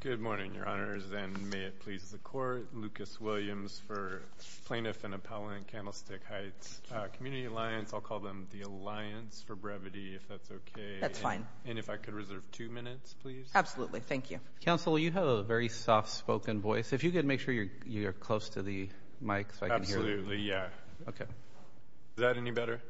Good morning, your honors, and may it please the court, Lucas Williams for Plaintiff and Appellant Candlestick Heights Community Alliance, I'll call them the Alliance for brevity, if that's okay. That's fine. And if I could reserve two minutes, please. Absolutely. Thank you. Counsel, you have a very soft-spoken voice. If you could make sure you're close to the mic so I can hear you. Absolutely, yeah. Okay. Is that any better?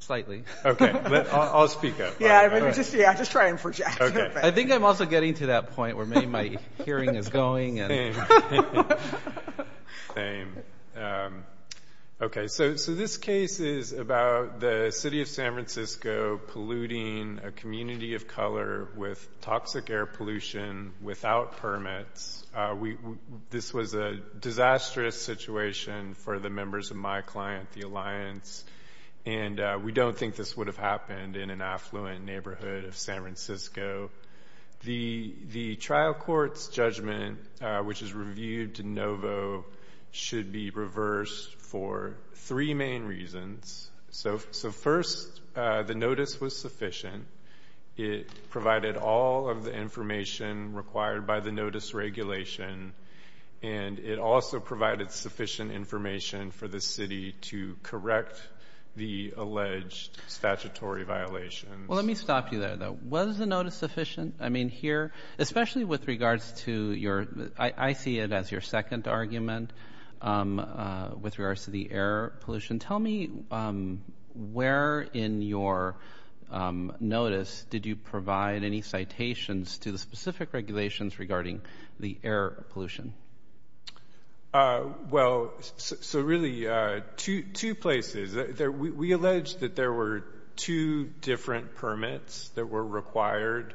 Slightly. Okay. I'll speak up. Yeah. I mean, just, yeah, just try and project. Okay. I think I'm also getting to that point where maybe my hearing is going and... Same. Okay. So, so this case is about the City of San Francisco polluting a community of color with toxic air pollution without permits. This was a disastrous situation for the members of my client, the Alliance, and we don't think this would have happened in an affluent neighborhood of San Francisco. The trial court's judgment, which is reviewed de novo, should be reversed for three main reasons. So, first, the notice was sufficient. It provided all of the information required by the notice regulation, and it also provided sufficient information for the city to correct the alleged statutory violations. Well, let me stop you there, though. Was the notice sufficient? I mean, here, especially with regards to your, I see it as your second argument with regards to the air pollution. Tell me where in your notice did you provide any citations to the specific regulations regarding the air pollution? Well, so really, two places. We alleged that there were two different permits that were required,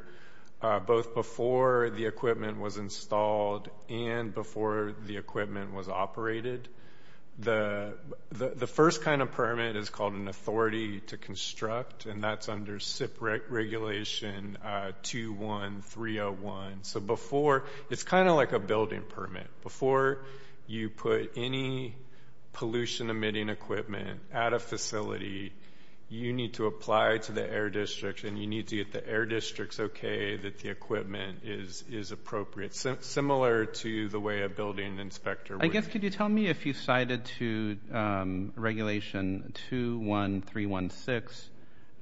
both before the equipment was installed and before the equipment was operated. The first kind of permit is called an authority to construct, and that's under SIP regulation 21301. So before, it's kind of like a building permit. Before you put any pollution-emitting equipment at a facility, you need to apply to the air district, and you need to get the air district's okay that the equipment is appropriate, similar to the way a building inspector would. I guess, could you tell me if you cited to regulation 21316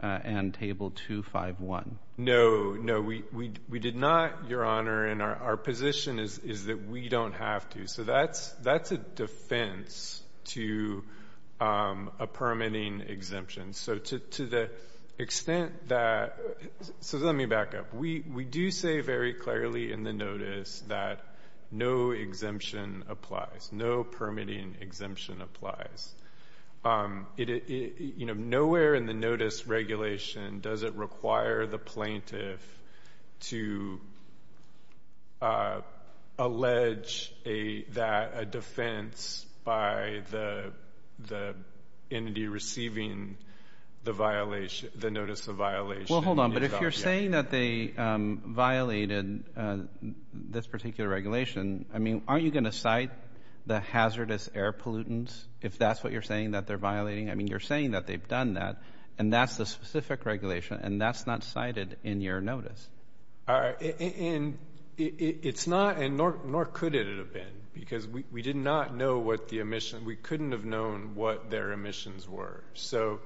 and table 251? No, no. We did not, Your Honor, and our position is that we don't have to. So that's a defense to a permitting exemption. So to the extent that, so let me back up. We do say very clearly in the notice that no exemption applies, no permitting exemption applies. Nowhere in the notice regulation does it require the plaintiff to allege that a defense by the entity receiving the notice of violation. Well, hold on. But if you're saying that they violated this particular regulation, I mean, aren't you going to cite the hazardous air pollutants? If that's what you're saying, that they're violating, I mean, you're saying that they've done that, and that's the specific regulation, and that's not cited in your notice. All right, and it's not, nor could it have been, because we did not know what the emissions, we couldn't have known what their emissions were. So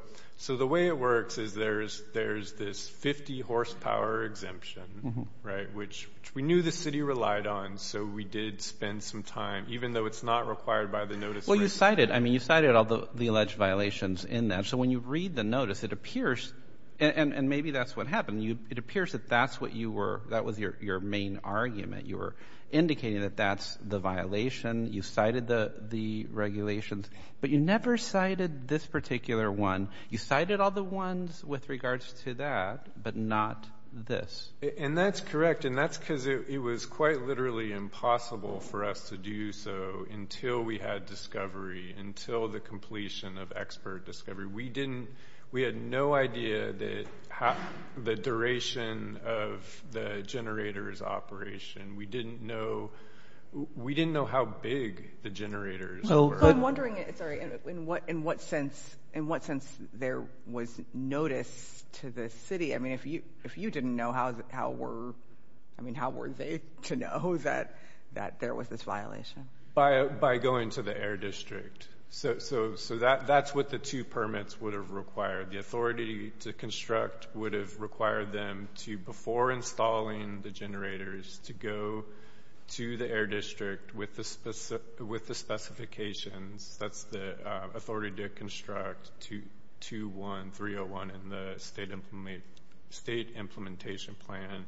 the way it works is there's this 50-horsepower exemption, right, which we knew the city relied on, so we did spend some time, even though it's not required by the notice. Well, you cited, I mean, you cited all the alleged violations in that, so when you read the notice, it appears, and maybe that's what happened, it appears that that's what you were, that was your main argument. You were indicating that that's the violation, you cited the regulations, but you never cited this particular one. You cited all the ones with regards to that, but not this. And that's correct, and that's because it was quite literally impossible for us to do so until we had discovery, until the completion of expert discovery. We didn't, we had no idea that the duration of the generator's operation, we didn't know, we didn't know how big the generators were. So I'm wondering, sorry, in what sense, in what sense there was notice to the city, I mean, if you didn't know how were, I mean, how were they to know that there was this violation? By going to the Air District. So that's what the two permits would have required. The authority to construct would have required them to, before installing the generators, to go to the Air District with the specifications, that's the authority to construct 2-1-3-0-1 in the state implementation plan.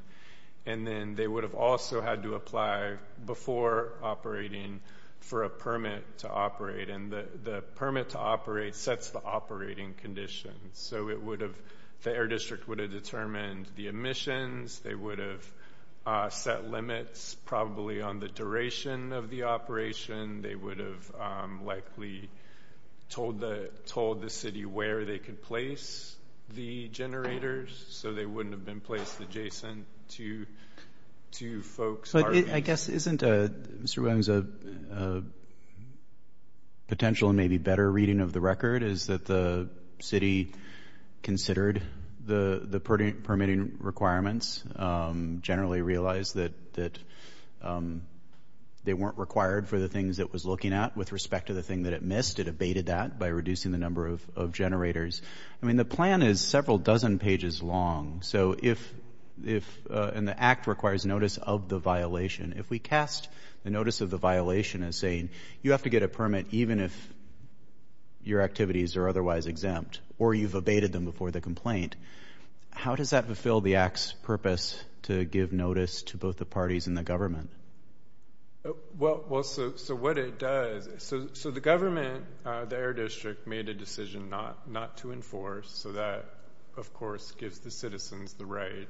And then they would have also had to apply before operating for a permit to operate, and the permit to operate sets the operating conditions. So it would have, the Air District would have determined the emissions, they would have set limits probably on the duration of the operation, they would have likely told the city where they could place the generators so they wouldn't have been placed adjacent to folks. But I guess isn't, Mr. Williams, a potential and maybe better reading of the record is that the city considered the permitting requirements, generally realized that they weren't required for the things it was looking at with respect to the thing that it missed, it abated that by reducing the number of generators. I mean, the plan is several dozen pages long, so if, and the Act requires notice of the violation. If we cast the notice of the violation as saying, you have to get a permit even if your activities are otherwise exempt, or you've abated them before the complaint, how does that fulfill the Act's purpose to give notice to both the parties and the government? Well, so what it does, so the government, the Air District, made a decision not to enforce, so that, of course, gives the citizens the right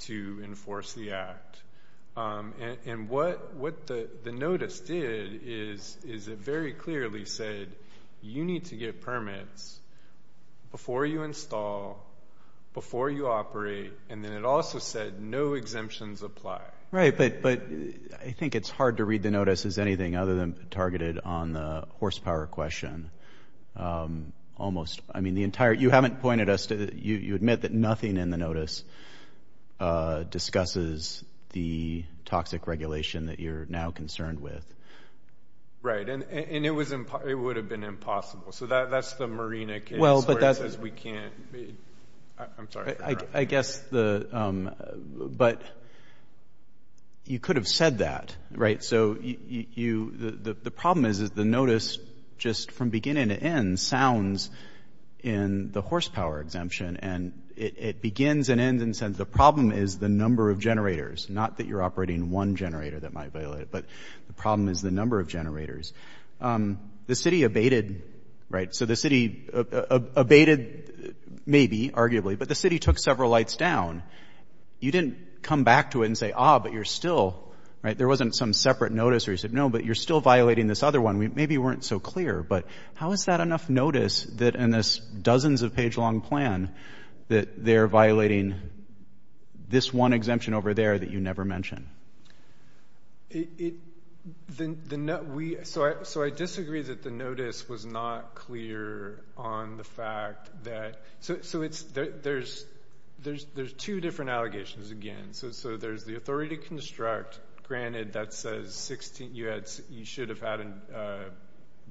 to enforce the Act. And what the notice did is it very clearly said, you need to get permits before you install, before you operate, and then it also said no exemptions apply. Right, but I think it's hard to read the notice as anything other than targeted on the horsepower question. Almost, I mean, the entire, you haven't pointed us to, you admit that nothing in the notice discusses the toxic regulation that you're now concerned with. Right, and it would have been impossible, so that's the Marina case where it says we can't, I'm sorry. I guess the, but you could have said that, right, so you, the problem is, is the notice just from beginning to end sounds in the horsepower exemption, and it begins and ends and says the problem is the number of generators, not that you're operating one generator that might violate it, but the problem is the number of generators. The city abated, right, so the city abated maybe, arguably, but the city took several lights down. You didn't come back to it and say, ah, but you're still, right, there wasn't some separate notice where you said, no, but you're still violating this other one. Maybe you weren't so clear, but how is that enough notice that in this dozens of page long plan that they're violating this one exemption over there that you never mentioned? It, the, we, so I disagree that the notice was not clear on the fact that, so it's, there's two different allegations, again, so there's the authority to construct, granted, that says 16, you had, you should have had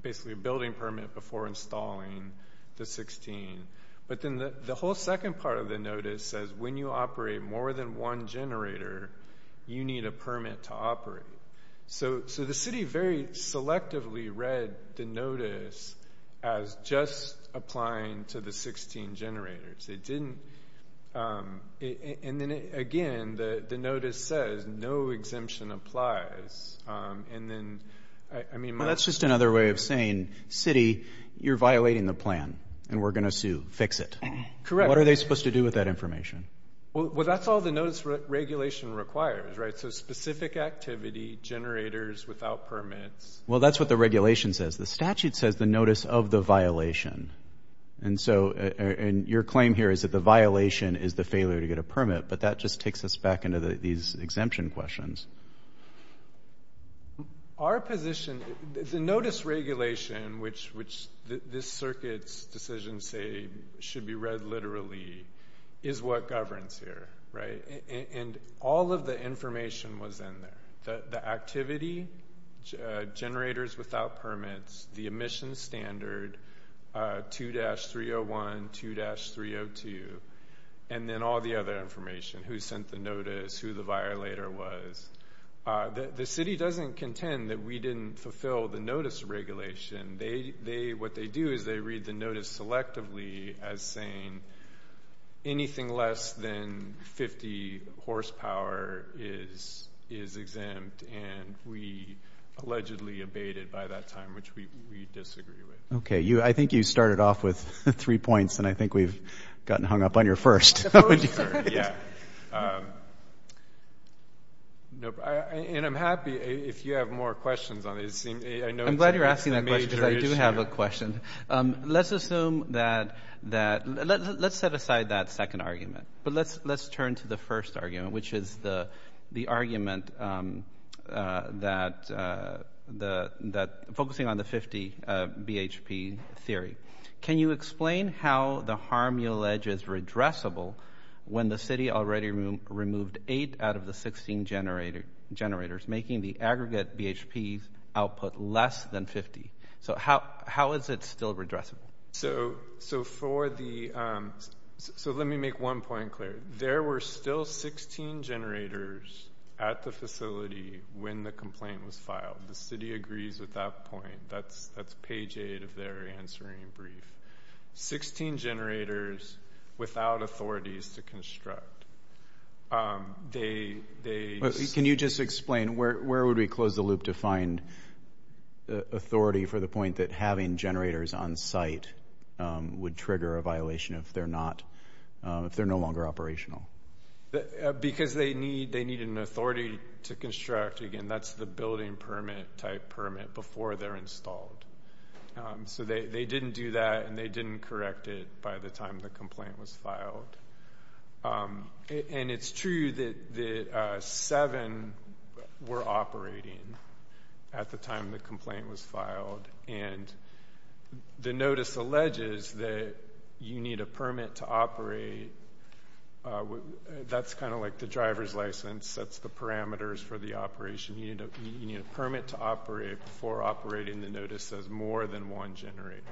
basically a building permit before installing the 16, but then the whole second part of the notice says when you operate more than one generator, you need a permit to operate. So the city very selectively read the notice as just applying to the 16 generators. It didn't, and then again, the notice says no exemption applies, and then, I mean, my- Well, that's just another way of saying, city, you're violating the plan, and we're going to sue. Fix it. Correct. What are they supposed to do with that information? Well, that's all the notice regulation requires, right? So specific activity, generators without permits. Well, that's what the regulation says. The statute says the notice of the violation, and so, and your claim here is that the violation is the failure to get a permit, but that just takes us back into these exemption questions. Our position, the notice regulation, which this circuit's decisions say should be read literally, is what governs here, right? And all of the information was in there. The activity, generators without permits, the emission standard, 2-301, 2-302, and then all the other information, who sent the notice, who the violator was. The city doesn't contend that we didn't fulfill the notice regulation. They, what they do is they read the notice selectively as saying anything less than 50 horsepower is exempt, and we allegedly abated by that time, which we disagree with. Okay. I think you started off with three points, and I think we've gotten hung up on your first. Yeah. And I'm happy, if you have more questions on this. I'm glad you're asking that question, because I do have a question. Let's assume that, let's set aside that second argument, but let's turn to the first argument, which is the argument that, focusing on the 50 BHP theory. Can you explain how the harm you allege is redressable when the city already removed eight out of the 16 generators, making the aggregate BHP output less than 50? So how is it still redressable? So for the, so let me make one point clear. There were still 16 generators at the facility when the complaint was filed. The city agrees with that point. That's page eight of their answering brief. 16 generators without authorities to construct. Can you just explain, where would we close the loop to find the authority for the point that having generators on site would trigger a violation if they're not, if they're no longer operational? Because they need an authority to construct, again, that's the building permit type permit before they're installed. So they didn't do that, and they didn't correct it by the time the complaint was filed. And it's true that seven were operating at the time the complaint was filed, and the notice alleges that you need a permit to operate. That's kind of like the driver's license. That's the parameters for the operation. You need a permit to operate before operating the notice says more than one generator.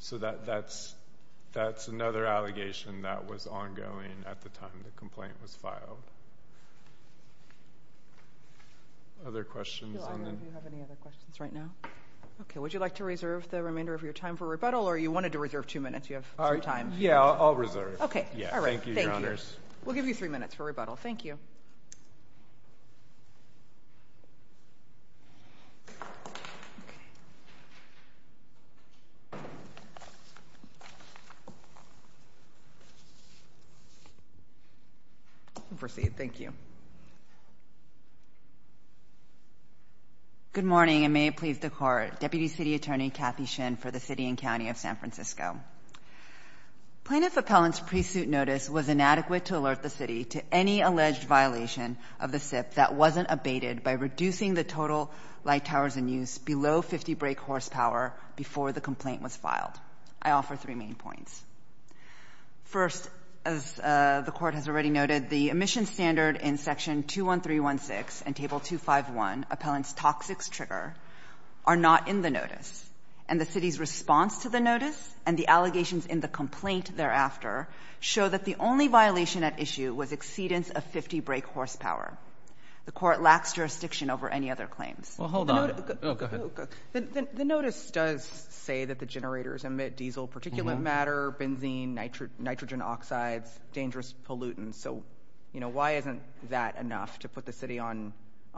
So that's another allegation that was ongoing at the time the complaint was filed. Other questions? Do you have any other questions right now? Okay, would you like to reserve the remainder of your time for rebuttal, or you wanted to reserve two minutes? You have some time. Yeah, I'll reserve. Okay. All right. Thank you, Your Honors. We'll give you three minutes for rebuttal. Thank you. You may proceed. Thank you. Good morning, and may it please the Court. Deputy City Attorney Kathy Shin for the City and County of San Francisco. Plaintiff appellant's pre-suit notice was inadequate to alert the City to any alleged violation of the SIP that wasn't abated by reducing the total light hours in use below 50 brake horsepower before the complaint was filed. I offer three main points. First, as the Court has already noted, the emissions standard in Section 21316 and Table 251, Appellant's Toxics Trigger, are not in the notice, and the City's response to the notice and the allegations in the complaint thereafter show that the only violation at issue was exceedance of 50 brake horsepower. The Court lacks jurisdiction over any other claims. Well, hold on. Oh, go ahead. The notice does say that the generators emit diesel particulate matter, benzene, nitrogen oxides, dangerous pollutants, so, you know, why isn't that enough to put the City on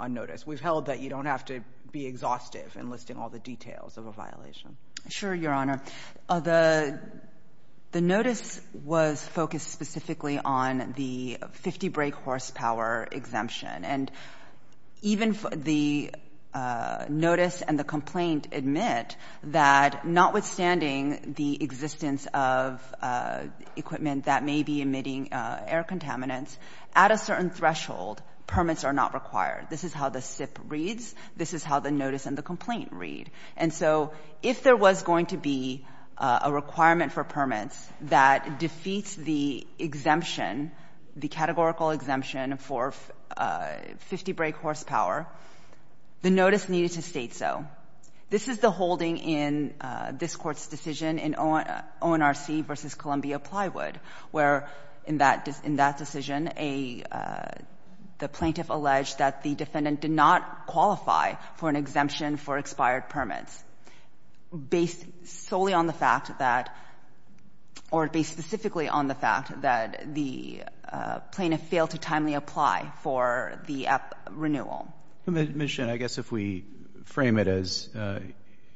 notice? We've held that you don't have to be exhaustive in listing all the details of a violation. Sure, Your Honor. The notice was focused specifically on the 50 brake horsepower exemption, and even the notice and the complaint admit that notwithstanding the existence of equipment that may be emitting air contaminants, at a certain threshold, permits are not required. This is how the SIP reads. This is how the notice and the complaint read. And so if there was going to be a requirement for permits that defeats the exemption, the categorical exemption for 50 brake horsepower, the notice needed to state so. This is the holding in this Court's decision in ONRC v. Columbia Plywood, where in that decision, the plaintiff alleged that the defendant did not qualify for an exemption for expired permits, based solely on the fact that, or based specifically on the fact that the plaintiff failed to timely apply for the renewal. Ms. Shinn, I guess if we frame it as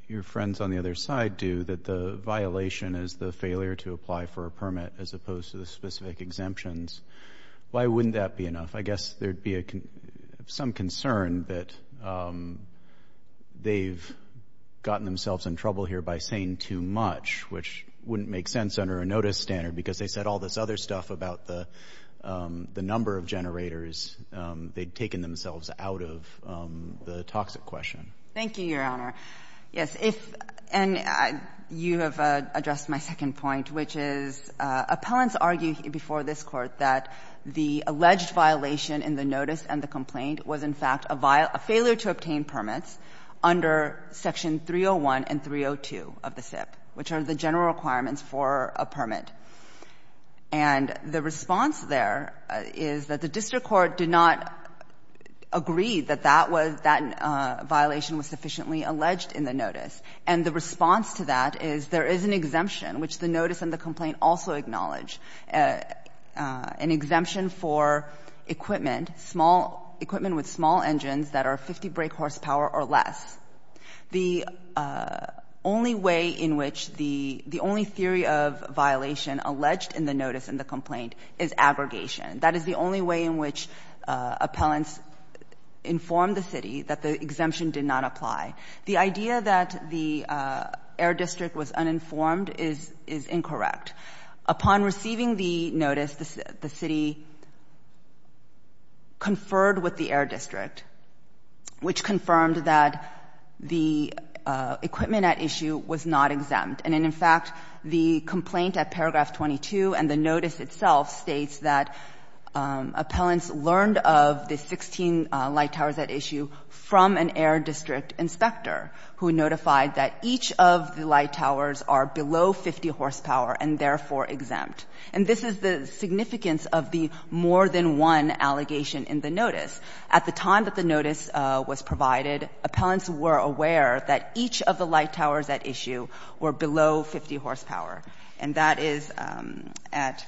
your friends on the other side do, that the violation is the failure to apply for a permit as opposed to the specific exemptions, why wouldn't that be enough? I guess there'd be some concern that they've gotten themselves in trouble here by saying too much, which wouldn't make sense under a notice standard, because they said all this other stuff about the number of generators. They'd taken themselves out of the toxic question. Thank you, Your Honor. Yes. If, and you have addressed my second point, which is, appellants argue before this Court that the alleged violation in the notice and the complaint was, in fact, a failure to obtain permits under Section 301 and 302 of the SIP, which are the general requirements for a permit. And the response there is that the district court did not agree that that was, that violation was sufficiently alleged in the notice. And the response to that is there is an exemption, which the notice and the complaint also acknowledge, an exemption for equipment, small, equipment with small engines that are 50 brake horsepower or less. The only way in which the, the only theory of violation alleged in the notice and the complaint is aggregation. That is the only way in which appellants inform the city that the exemption did not apply. The idea that the Air District was uninformed is, is incorrect. Upon receiving the notice, the city conferred with the Air District, which confirmed that the equipment at issue was not exempt. And in fact, the complaint at paragraph 22 and the notice itself states that appellants learned of the 16 light towers at issue from an Air District inspector who notified that each of the light towers are below 50 horsepower and therefore exempt. And this is the significance of the more than one allegation in the notice. At the time that the notice was provided, appellants were aware that each of the light towers at issue were below 50 horsepower. And that is at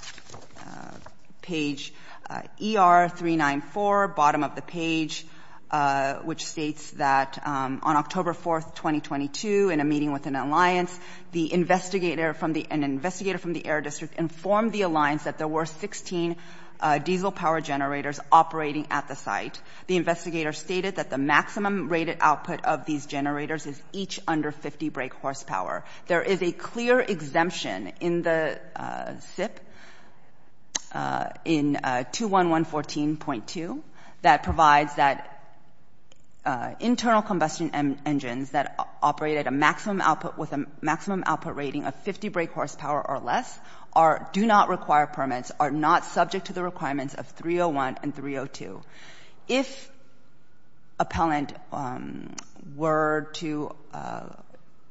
page ER394, bottom of the page, which states that on October 4th, 2022, in a meeting with an alliance, the investigator from the, an investigator from the Air District informed the alliance that there were 16 diesel power generators operating at the site. The investigator stated that the maximum rated output of these generators is each under 50 brake horsepower. There is a clear exemption in the SIP in 21114.2 that provides that internal combustion engines that operate at a maximum output with a maximum output rating of 50 brake horsepower or less are, do not require permits, are not subject to the requirements of 301 and 302. If appellant were to,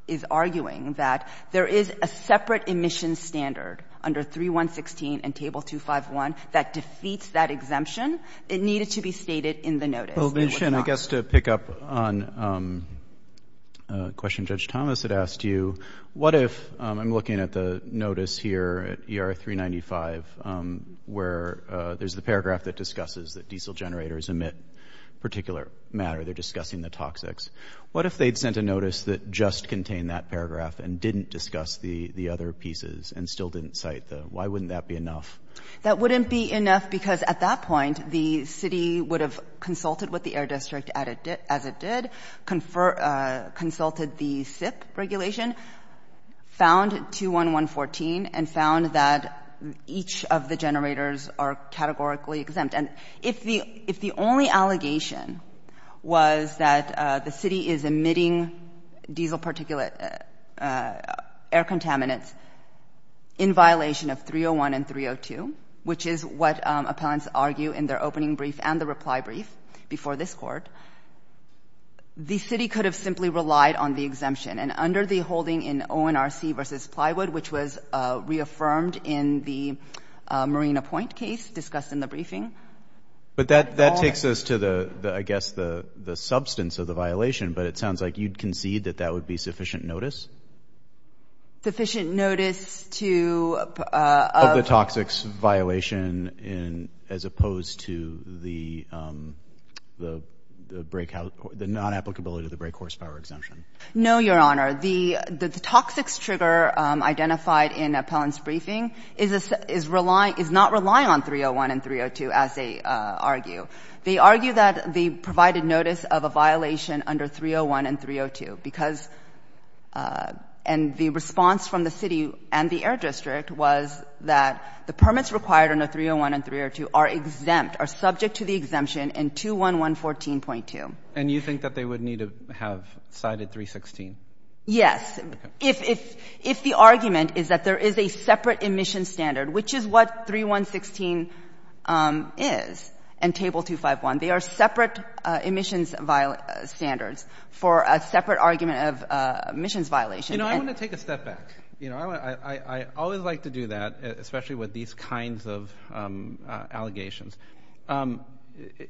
is arguing that there is a separate emission standard under 3116 and table 251 that defeats that exemption, it needed to be stated in the notice. And it was not. Well, Michonne, I guess to pick up on a question Judge Thomas had asked you, what if, I'm looking at the notice here at ER395, where there's the paragraph that discusses that diesel generators emit particular matter, they're discussing the toxics. What if they'd sent a notice that just contained that paragraph and didn't discuss the other pieces and still didn't cite the, why wouldn't that be enough? That wouldn't be enough because at that point, the city would have consulted with the Air District as it did, consulted the SIP regulation, found 21114, and found that each of the generators are categorically exempt. And if the only allegation was that the city is emitting diesel particulate air contaminants in violation of 301 and 302, which is what appellants argue in their opening brief and the reply brief before this Court, the city could have simply relied on the exemption. And under the holding in ONRC v. Plywood, which was reaffirmed in the Marina Point case discussed in the briefing. But that takes us to the, I guess, the substance of the violation. But it sounds like you'd concede that that would be sufficient notice? Sufficient notice to Of the toxics violation as opposed to the non-applicability of the brake horsepower exemption. No, Your Honor. The toxics trigger identified in appellant's briefing is not relying on 301 and 302, as they argue. They argue that they provided notice of a violation under 301 and 302 because and the response from the city and the Air District was that the permits required under 301 and 302 are exempt, are subject to the exemption in 21114.2. And you think that they would need to have cited 316? Yes. If the argument is that there is a separate emission standard, which is what 3116 is, and table 251, they are separate emissions standards for a separate argument of emissions violation. You know, I want to take a step back. You know, I always like to do that, especially with these kinds of allegations.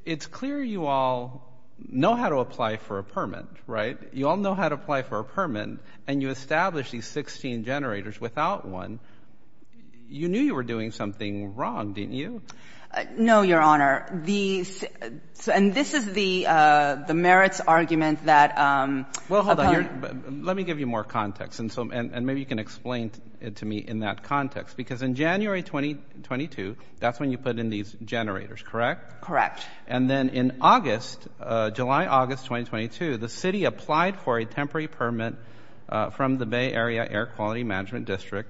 It's clear you all know how to apply for a permit, right? You all know how to apply for a permit, and you establish these 16 generators without one. You knew you were doing something wrong, didn't you? No, Your Honor. And this is the merits argument that... Well, hold on. Let me give you more context, and maybe you can explain it to me in that context. Because in January 2022, that's when you put in these generators, correct? Correct. And then in August, July, August 2022, the city applied for a temporary permit from the Bay Area Air Quality Management District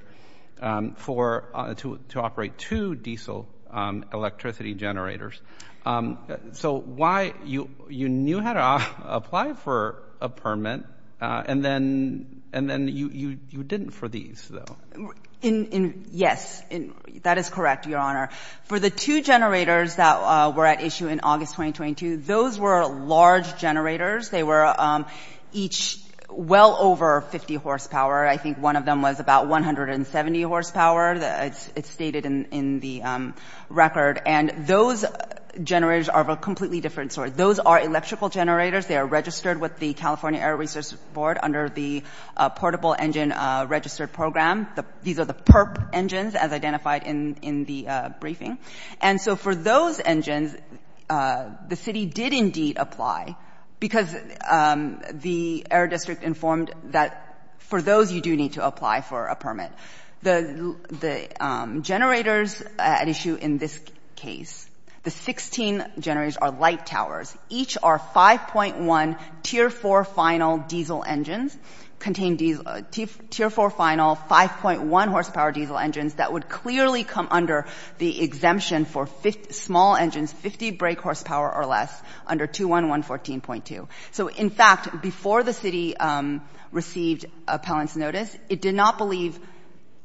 to operate two diesel electricity generators. So you knew how to apply for a permit, and then you didn't for these, though. Yes, that is correct, Your Honor. For the two generators that were at issue in August 2022, those were large generators. They were each well over 50 horsepower. I think one of them was about 170 horsepower. It's stated in the record. And those generators are of a completely different sort. Those are electrical generators. They are registered with the California Air Resources Board under the Portable Engine Registered Program. These are the PERP engines as identified in the briefing. And so for those engines, the city did indeed apply because the Air District informed that for those, you do need to apply for a permit. The generators at issue in this case, the 16 generators are light towers. Each are 5.1 Tier 4 final diesel engines, contain Tier 4 final 5.1 horsepower diesel engines that would clearly come under the exemption for small engines, 50 brake horsepower or less, under 211.14.2. So in fact, before the city received appellant's notice, it did not believe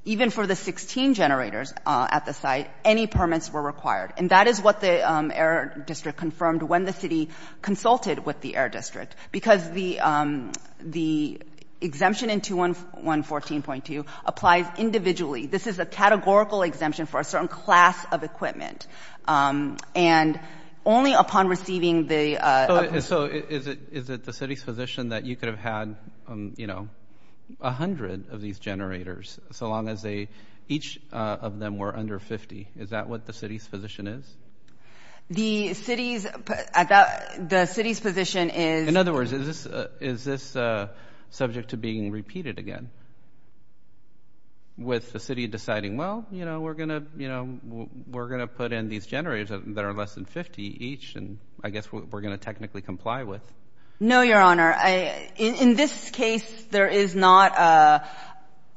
even for the 16 generators at the site, any permits were required. And that is what the Air District confirmed when the city consulted with the Air District, because the exemption in 211.14.2 applies individually. This is a categorical exemption for a certain class of equipment. And only upon receiving the- So is it the city's position that you could have had 100 of these generators so long as each of them were under 50? Is that what the city's position is? The city's position is- In other words, is this subject to being repeated again? With the city deciding, well, we're going to put in these generators that are less than 50 each, and I guess we're going to technically comply with. No, Your Honor. In this case, there is not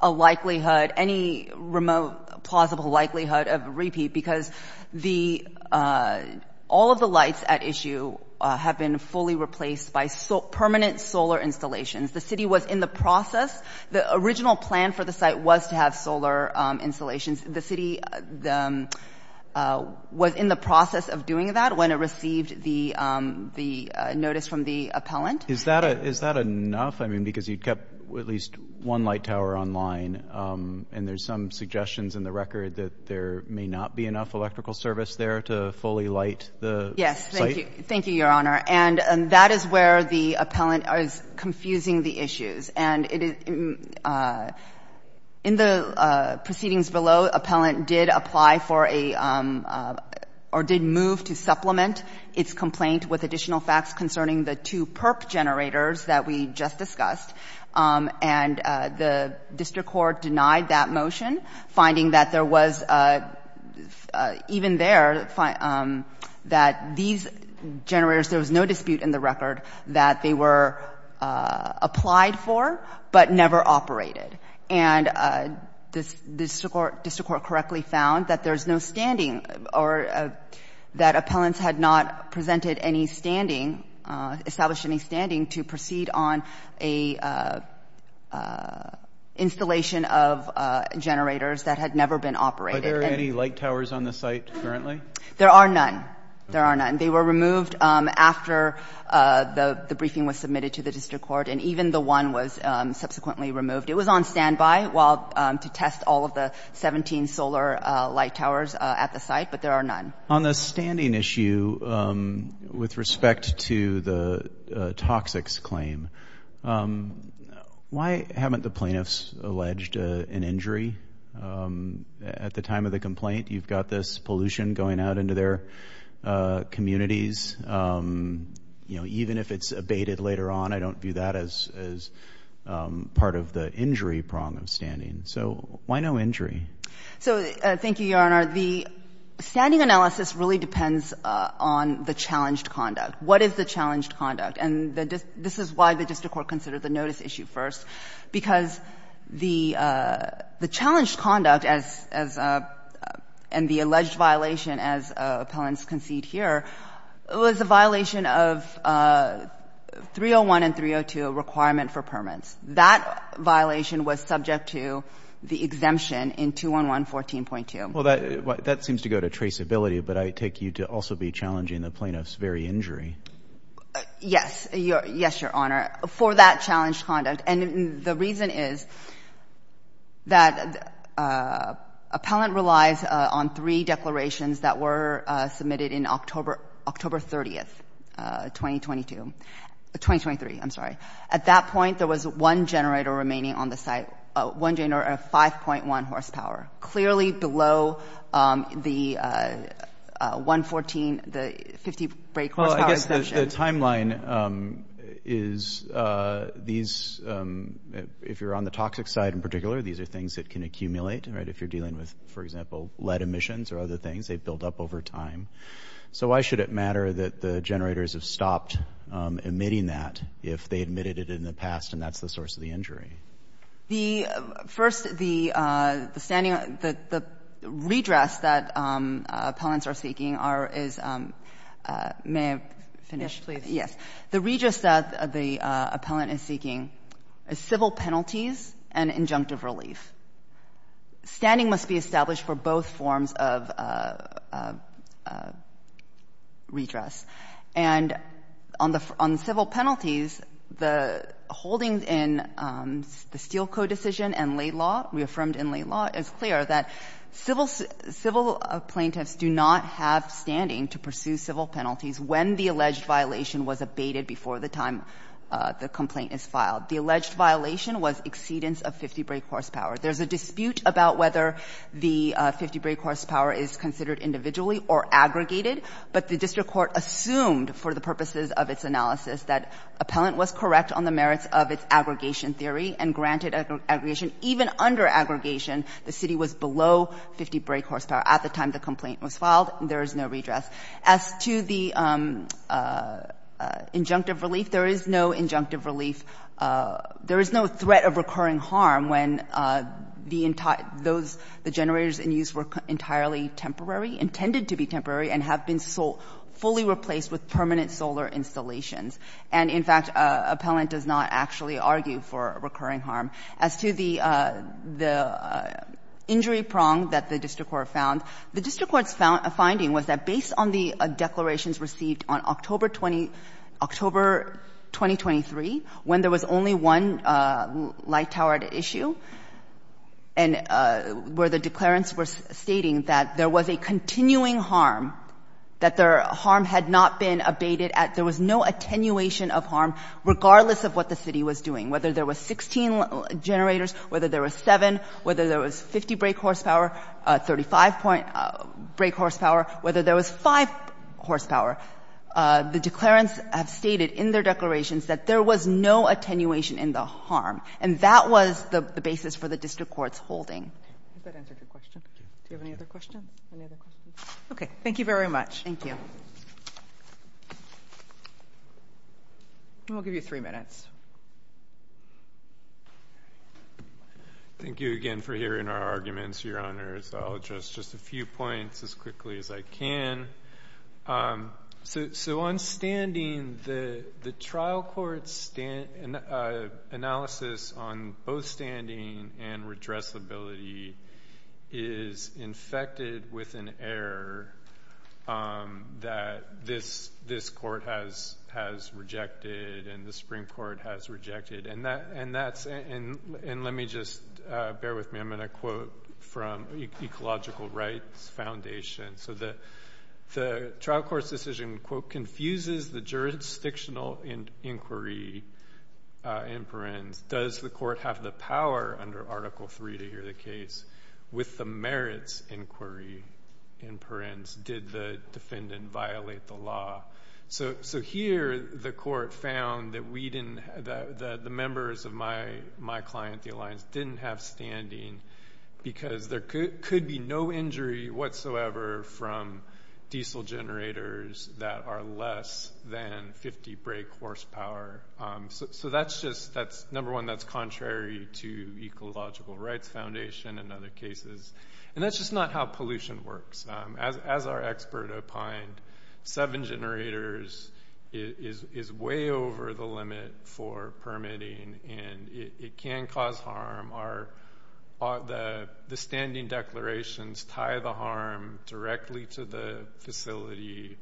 a likelihood, any remote plausible likelihood of repeat, because all of the lights at issue have been fully replaced by permanent solar installations. The city was in the process. The original plan for the site was to have solar installations. The city was in the process of doing that when it received the notice from the appellant. Is that enough? I mean, because you kept at least one light tower online, and there's some suggestions in the record that there may not be enough electrical service there to fully light the site. Yes. Thank you. Thank you, Your Honor. And that is where the appellant is confusing the issues. And in the proceedings below, appellant did apply for a, or did move to supplement its complaint with additional facts concerning the two PERP generators that we just discussed, and the district court denied that motion, finding that there was, even there, that these generators, there was no dispute in the record that they were applied for but never operated. And the district court correctly found that there's no standing or that appellants had not presented any standing, established any standing to proceed on a installation of generators that had never been operated. Are there any light towers on the site currently? There are none. There are none. They were removed after the briefing was submitted to the district court, and even the one was subsequently removed. It was on standby while, to test all of the 17 solar light towers at the site, but there are none. On the standing issue, with respect to the toxics claim, why haven't the plaintiffs alleged an injury? At the time of the complaint, you've got this pollution going out into their communities. You know, even if it's abated later on, I don't view that as part of the injury prong of standing. So why no injury? So thank you, Your Honor. The standing analysis really depends on the challenged conduct. What is the challenged conduct? And this is why the district court considered the notice issue first, because the challenged conduct as — and the alleged violation, as appellants concede here, was a violation of 301 and 302, a requirement for permits. That violation was subject to the exemption in 211-14.2. Well, that seems to go to traceability, but I take you to also be challenging the plaintiff's very injury. Yes. Yes, Your Honor. For that challenged conduct. And the reason is that appellant relies on three declarations that were submitted in October 30th, 2022 — 2023, I'm sorry. At that point, there was one generator remaining on the site, one generator at 5.1 horsepower, clearly below the 1.14, the 50 brake horsepower — Well, I guess the timeline is these — if you're on the toxic side in particular, these are things that can accumulate, right? If you're dealing with, for example, lead emissions or other things, they build up over time. So why should it matter that the generators have stopped emitting that if they emitted it in the past and that's the source of the injury? The — first, the standing — the redress that appellants are seeking are — is — may I finish? Yes. The redress that the appellant is seeking is civil penalties and injunctive relief. Standing must be established for both forms of redress. And on the civil penalties, the holdings in the Steel Co. decision and late law, reaffirmed in late law, is clear that civil — civil plaintiffs do not have standing to pursue civil penalties when the alleged violation was abated before the time the complaint is filed. The alleged violation was exceedance of 50 brake horsepower. There's a dispute about whether the 50 brake horsepower is considered individually or aggregated, but the district court assumed for the purposes of its analysis that appellant was correct on the merits of its aggregation theory and granted aggregation. Even under aggregation, the city was below 50 brake horsepower at the time the complaint was filed. There is no redress. As to the injunctive relief, there is no injunctive relief — there is no threat of recurring harm when the — those — the generators in use were entirely temporary, intended to be temporary, and have been fully replaced with permanent solar installations. And, in fact, appellant does not actually argue for recurring harm. As to the — the injury prong that the district court found, the district court's finding was that based on the declarations received on October 20 — October 2023, when there was only one light-towered issue and where the declarants were stating that there was a continuing harm, that the harm had not been abated, there was no attenuation of harm regardless of what the city was doing, whether there was 16 generators, whether there was 7, whether there was 50 brake horsepower, 35 brake horsepower, whether there was 5 horsepower, the declarants have stated in their declarations that there was no attenuation in the harm. And that was the basis for the district court's holding. I hope that answered your question. Do you have any other questions? Any other questions? Okay. Thank you very much. Thank you. And we'll give you 3 minutes. Thank you again for hearing our arguments, Your Honors. I'll address just a few points as quickly as I can. So on standing, the trial court's analysis on both standing and redressability is infected with an error that this court has rejected and the Supreme Court has rejected. And let me just — bear with me — I'm going to quote from the Ecological Rights Foundation. So the trial court's decision, quote, confuses the jurisdictional inquiry in Perrins. Does the court have the power under Article 3 to hear the case with the merits inquiry in Perrins? Did the defendant violate the law? So here the court found that the members of my client, the Alliance, didn't have standing because there could be no injury whatsoever from diesel generators that are less than 50 brake horsepower. So that's just — number one, that's contrary to Ecological Rights Foundation and other cases. And that's just not how pollution works. As our expert opined, seven generators is way over the limit for permitting and it can cause harm. The standing declarations tie the harm directly to the facility.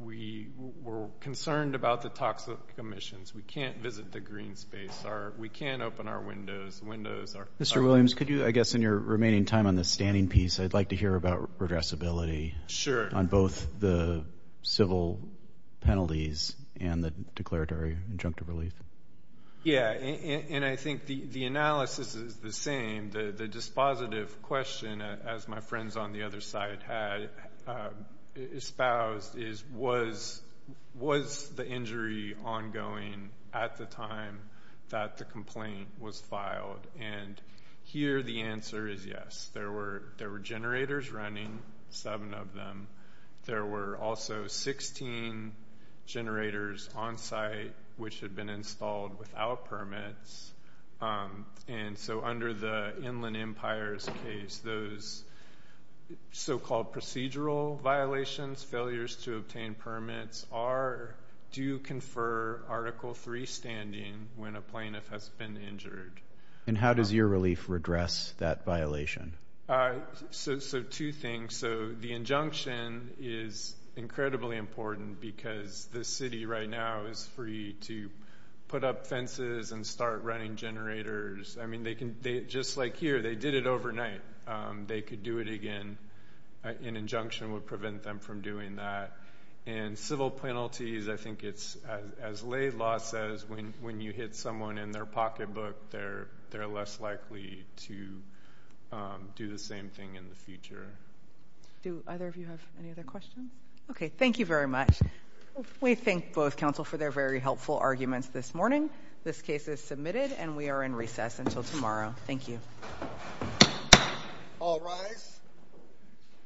We were concerned about the toxic emissions. We can't visit the green space. We can't open our windows. The windows are — Mr. Williams, could you, I guess, in your remaining time on the standing piece, I'd like to hear about redressability on both the civil penalties and the declaratory injunctive relief. Yeah, and I think the analysis is the same. The dispositive question, as my friends on the other side had espoused, is was the injury ongoing at the time that the complaint was filed? And here the answer is yes. There were generators running, seven of them. There were also 16 generators on site which had been installed without permits. And so under the Inland Empire's case, those so-called procedural violations, failures to obtain permits, do confer Article III standing when a plaintiff has been injured. And how does your relief redress that violation? So two things. So the injunction is incredibly important because the city right now is free to put up fences and start running generators. I mean, just like here, they did it overnight. They could do it again. An injunction would prevent them from doing that. And civil penalties, I think it's, as lay law says, when you hit someone in their pocketbook, they're less likely to do the same thing in the future. Do either of you have any other questions? Okay, thank you very much. We thank both counsel for their very helpful arguments this morning. This case is submitted and we are in recess until tomorrow. Thank you. All rise.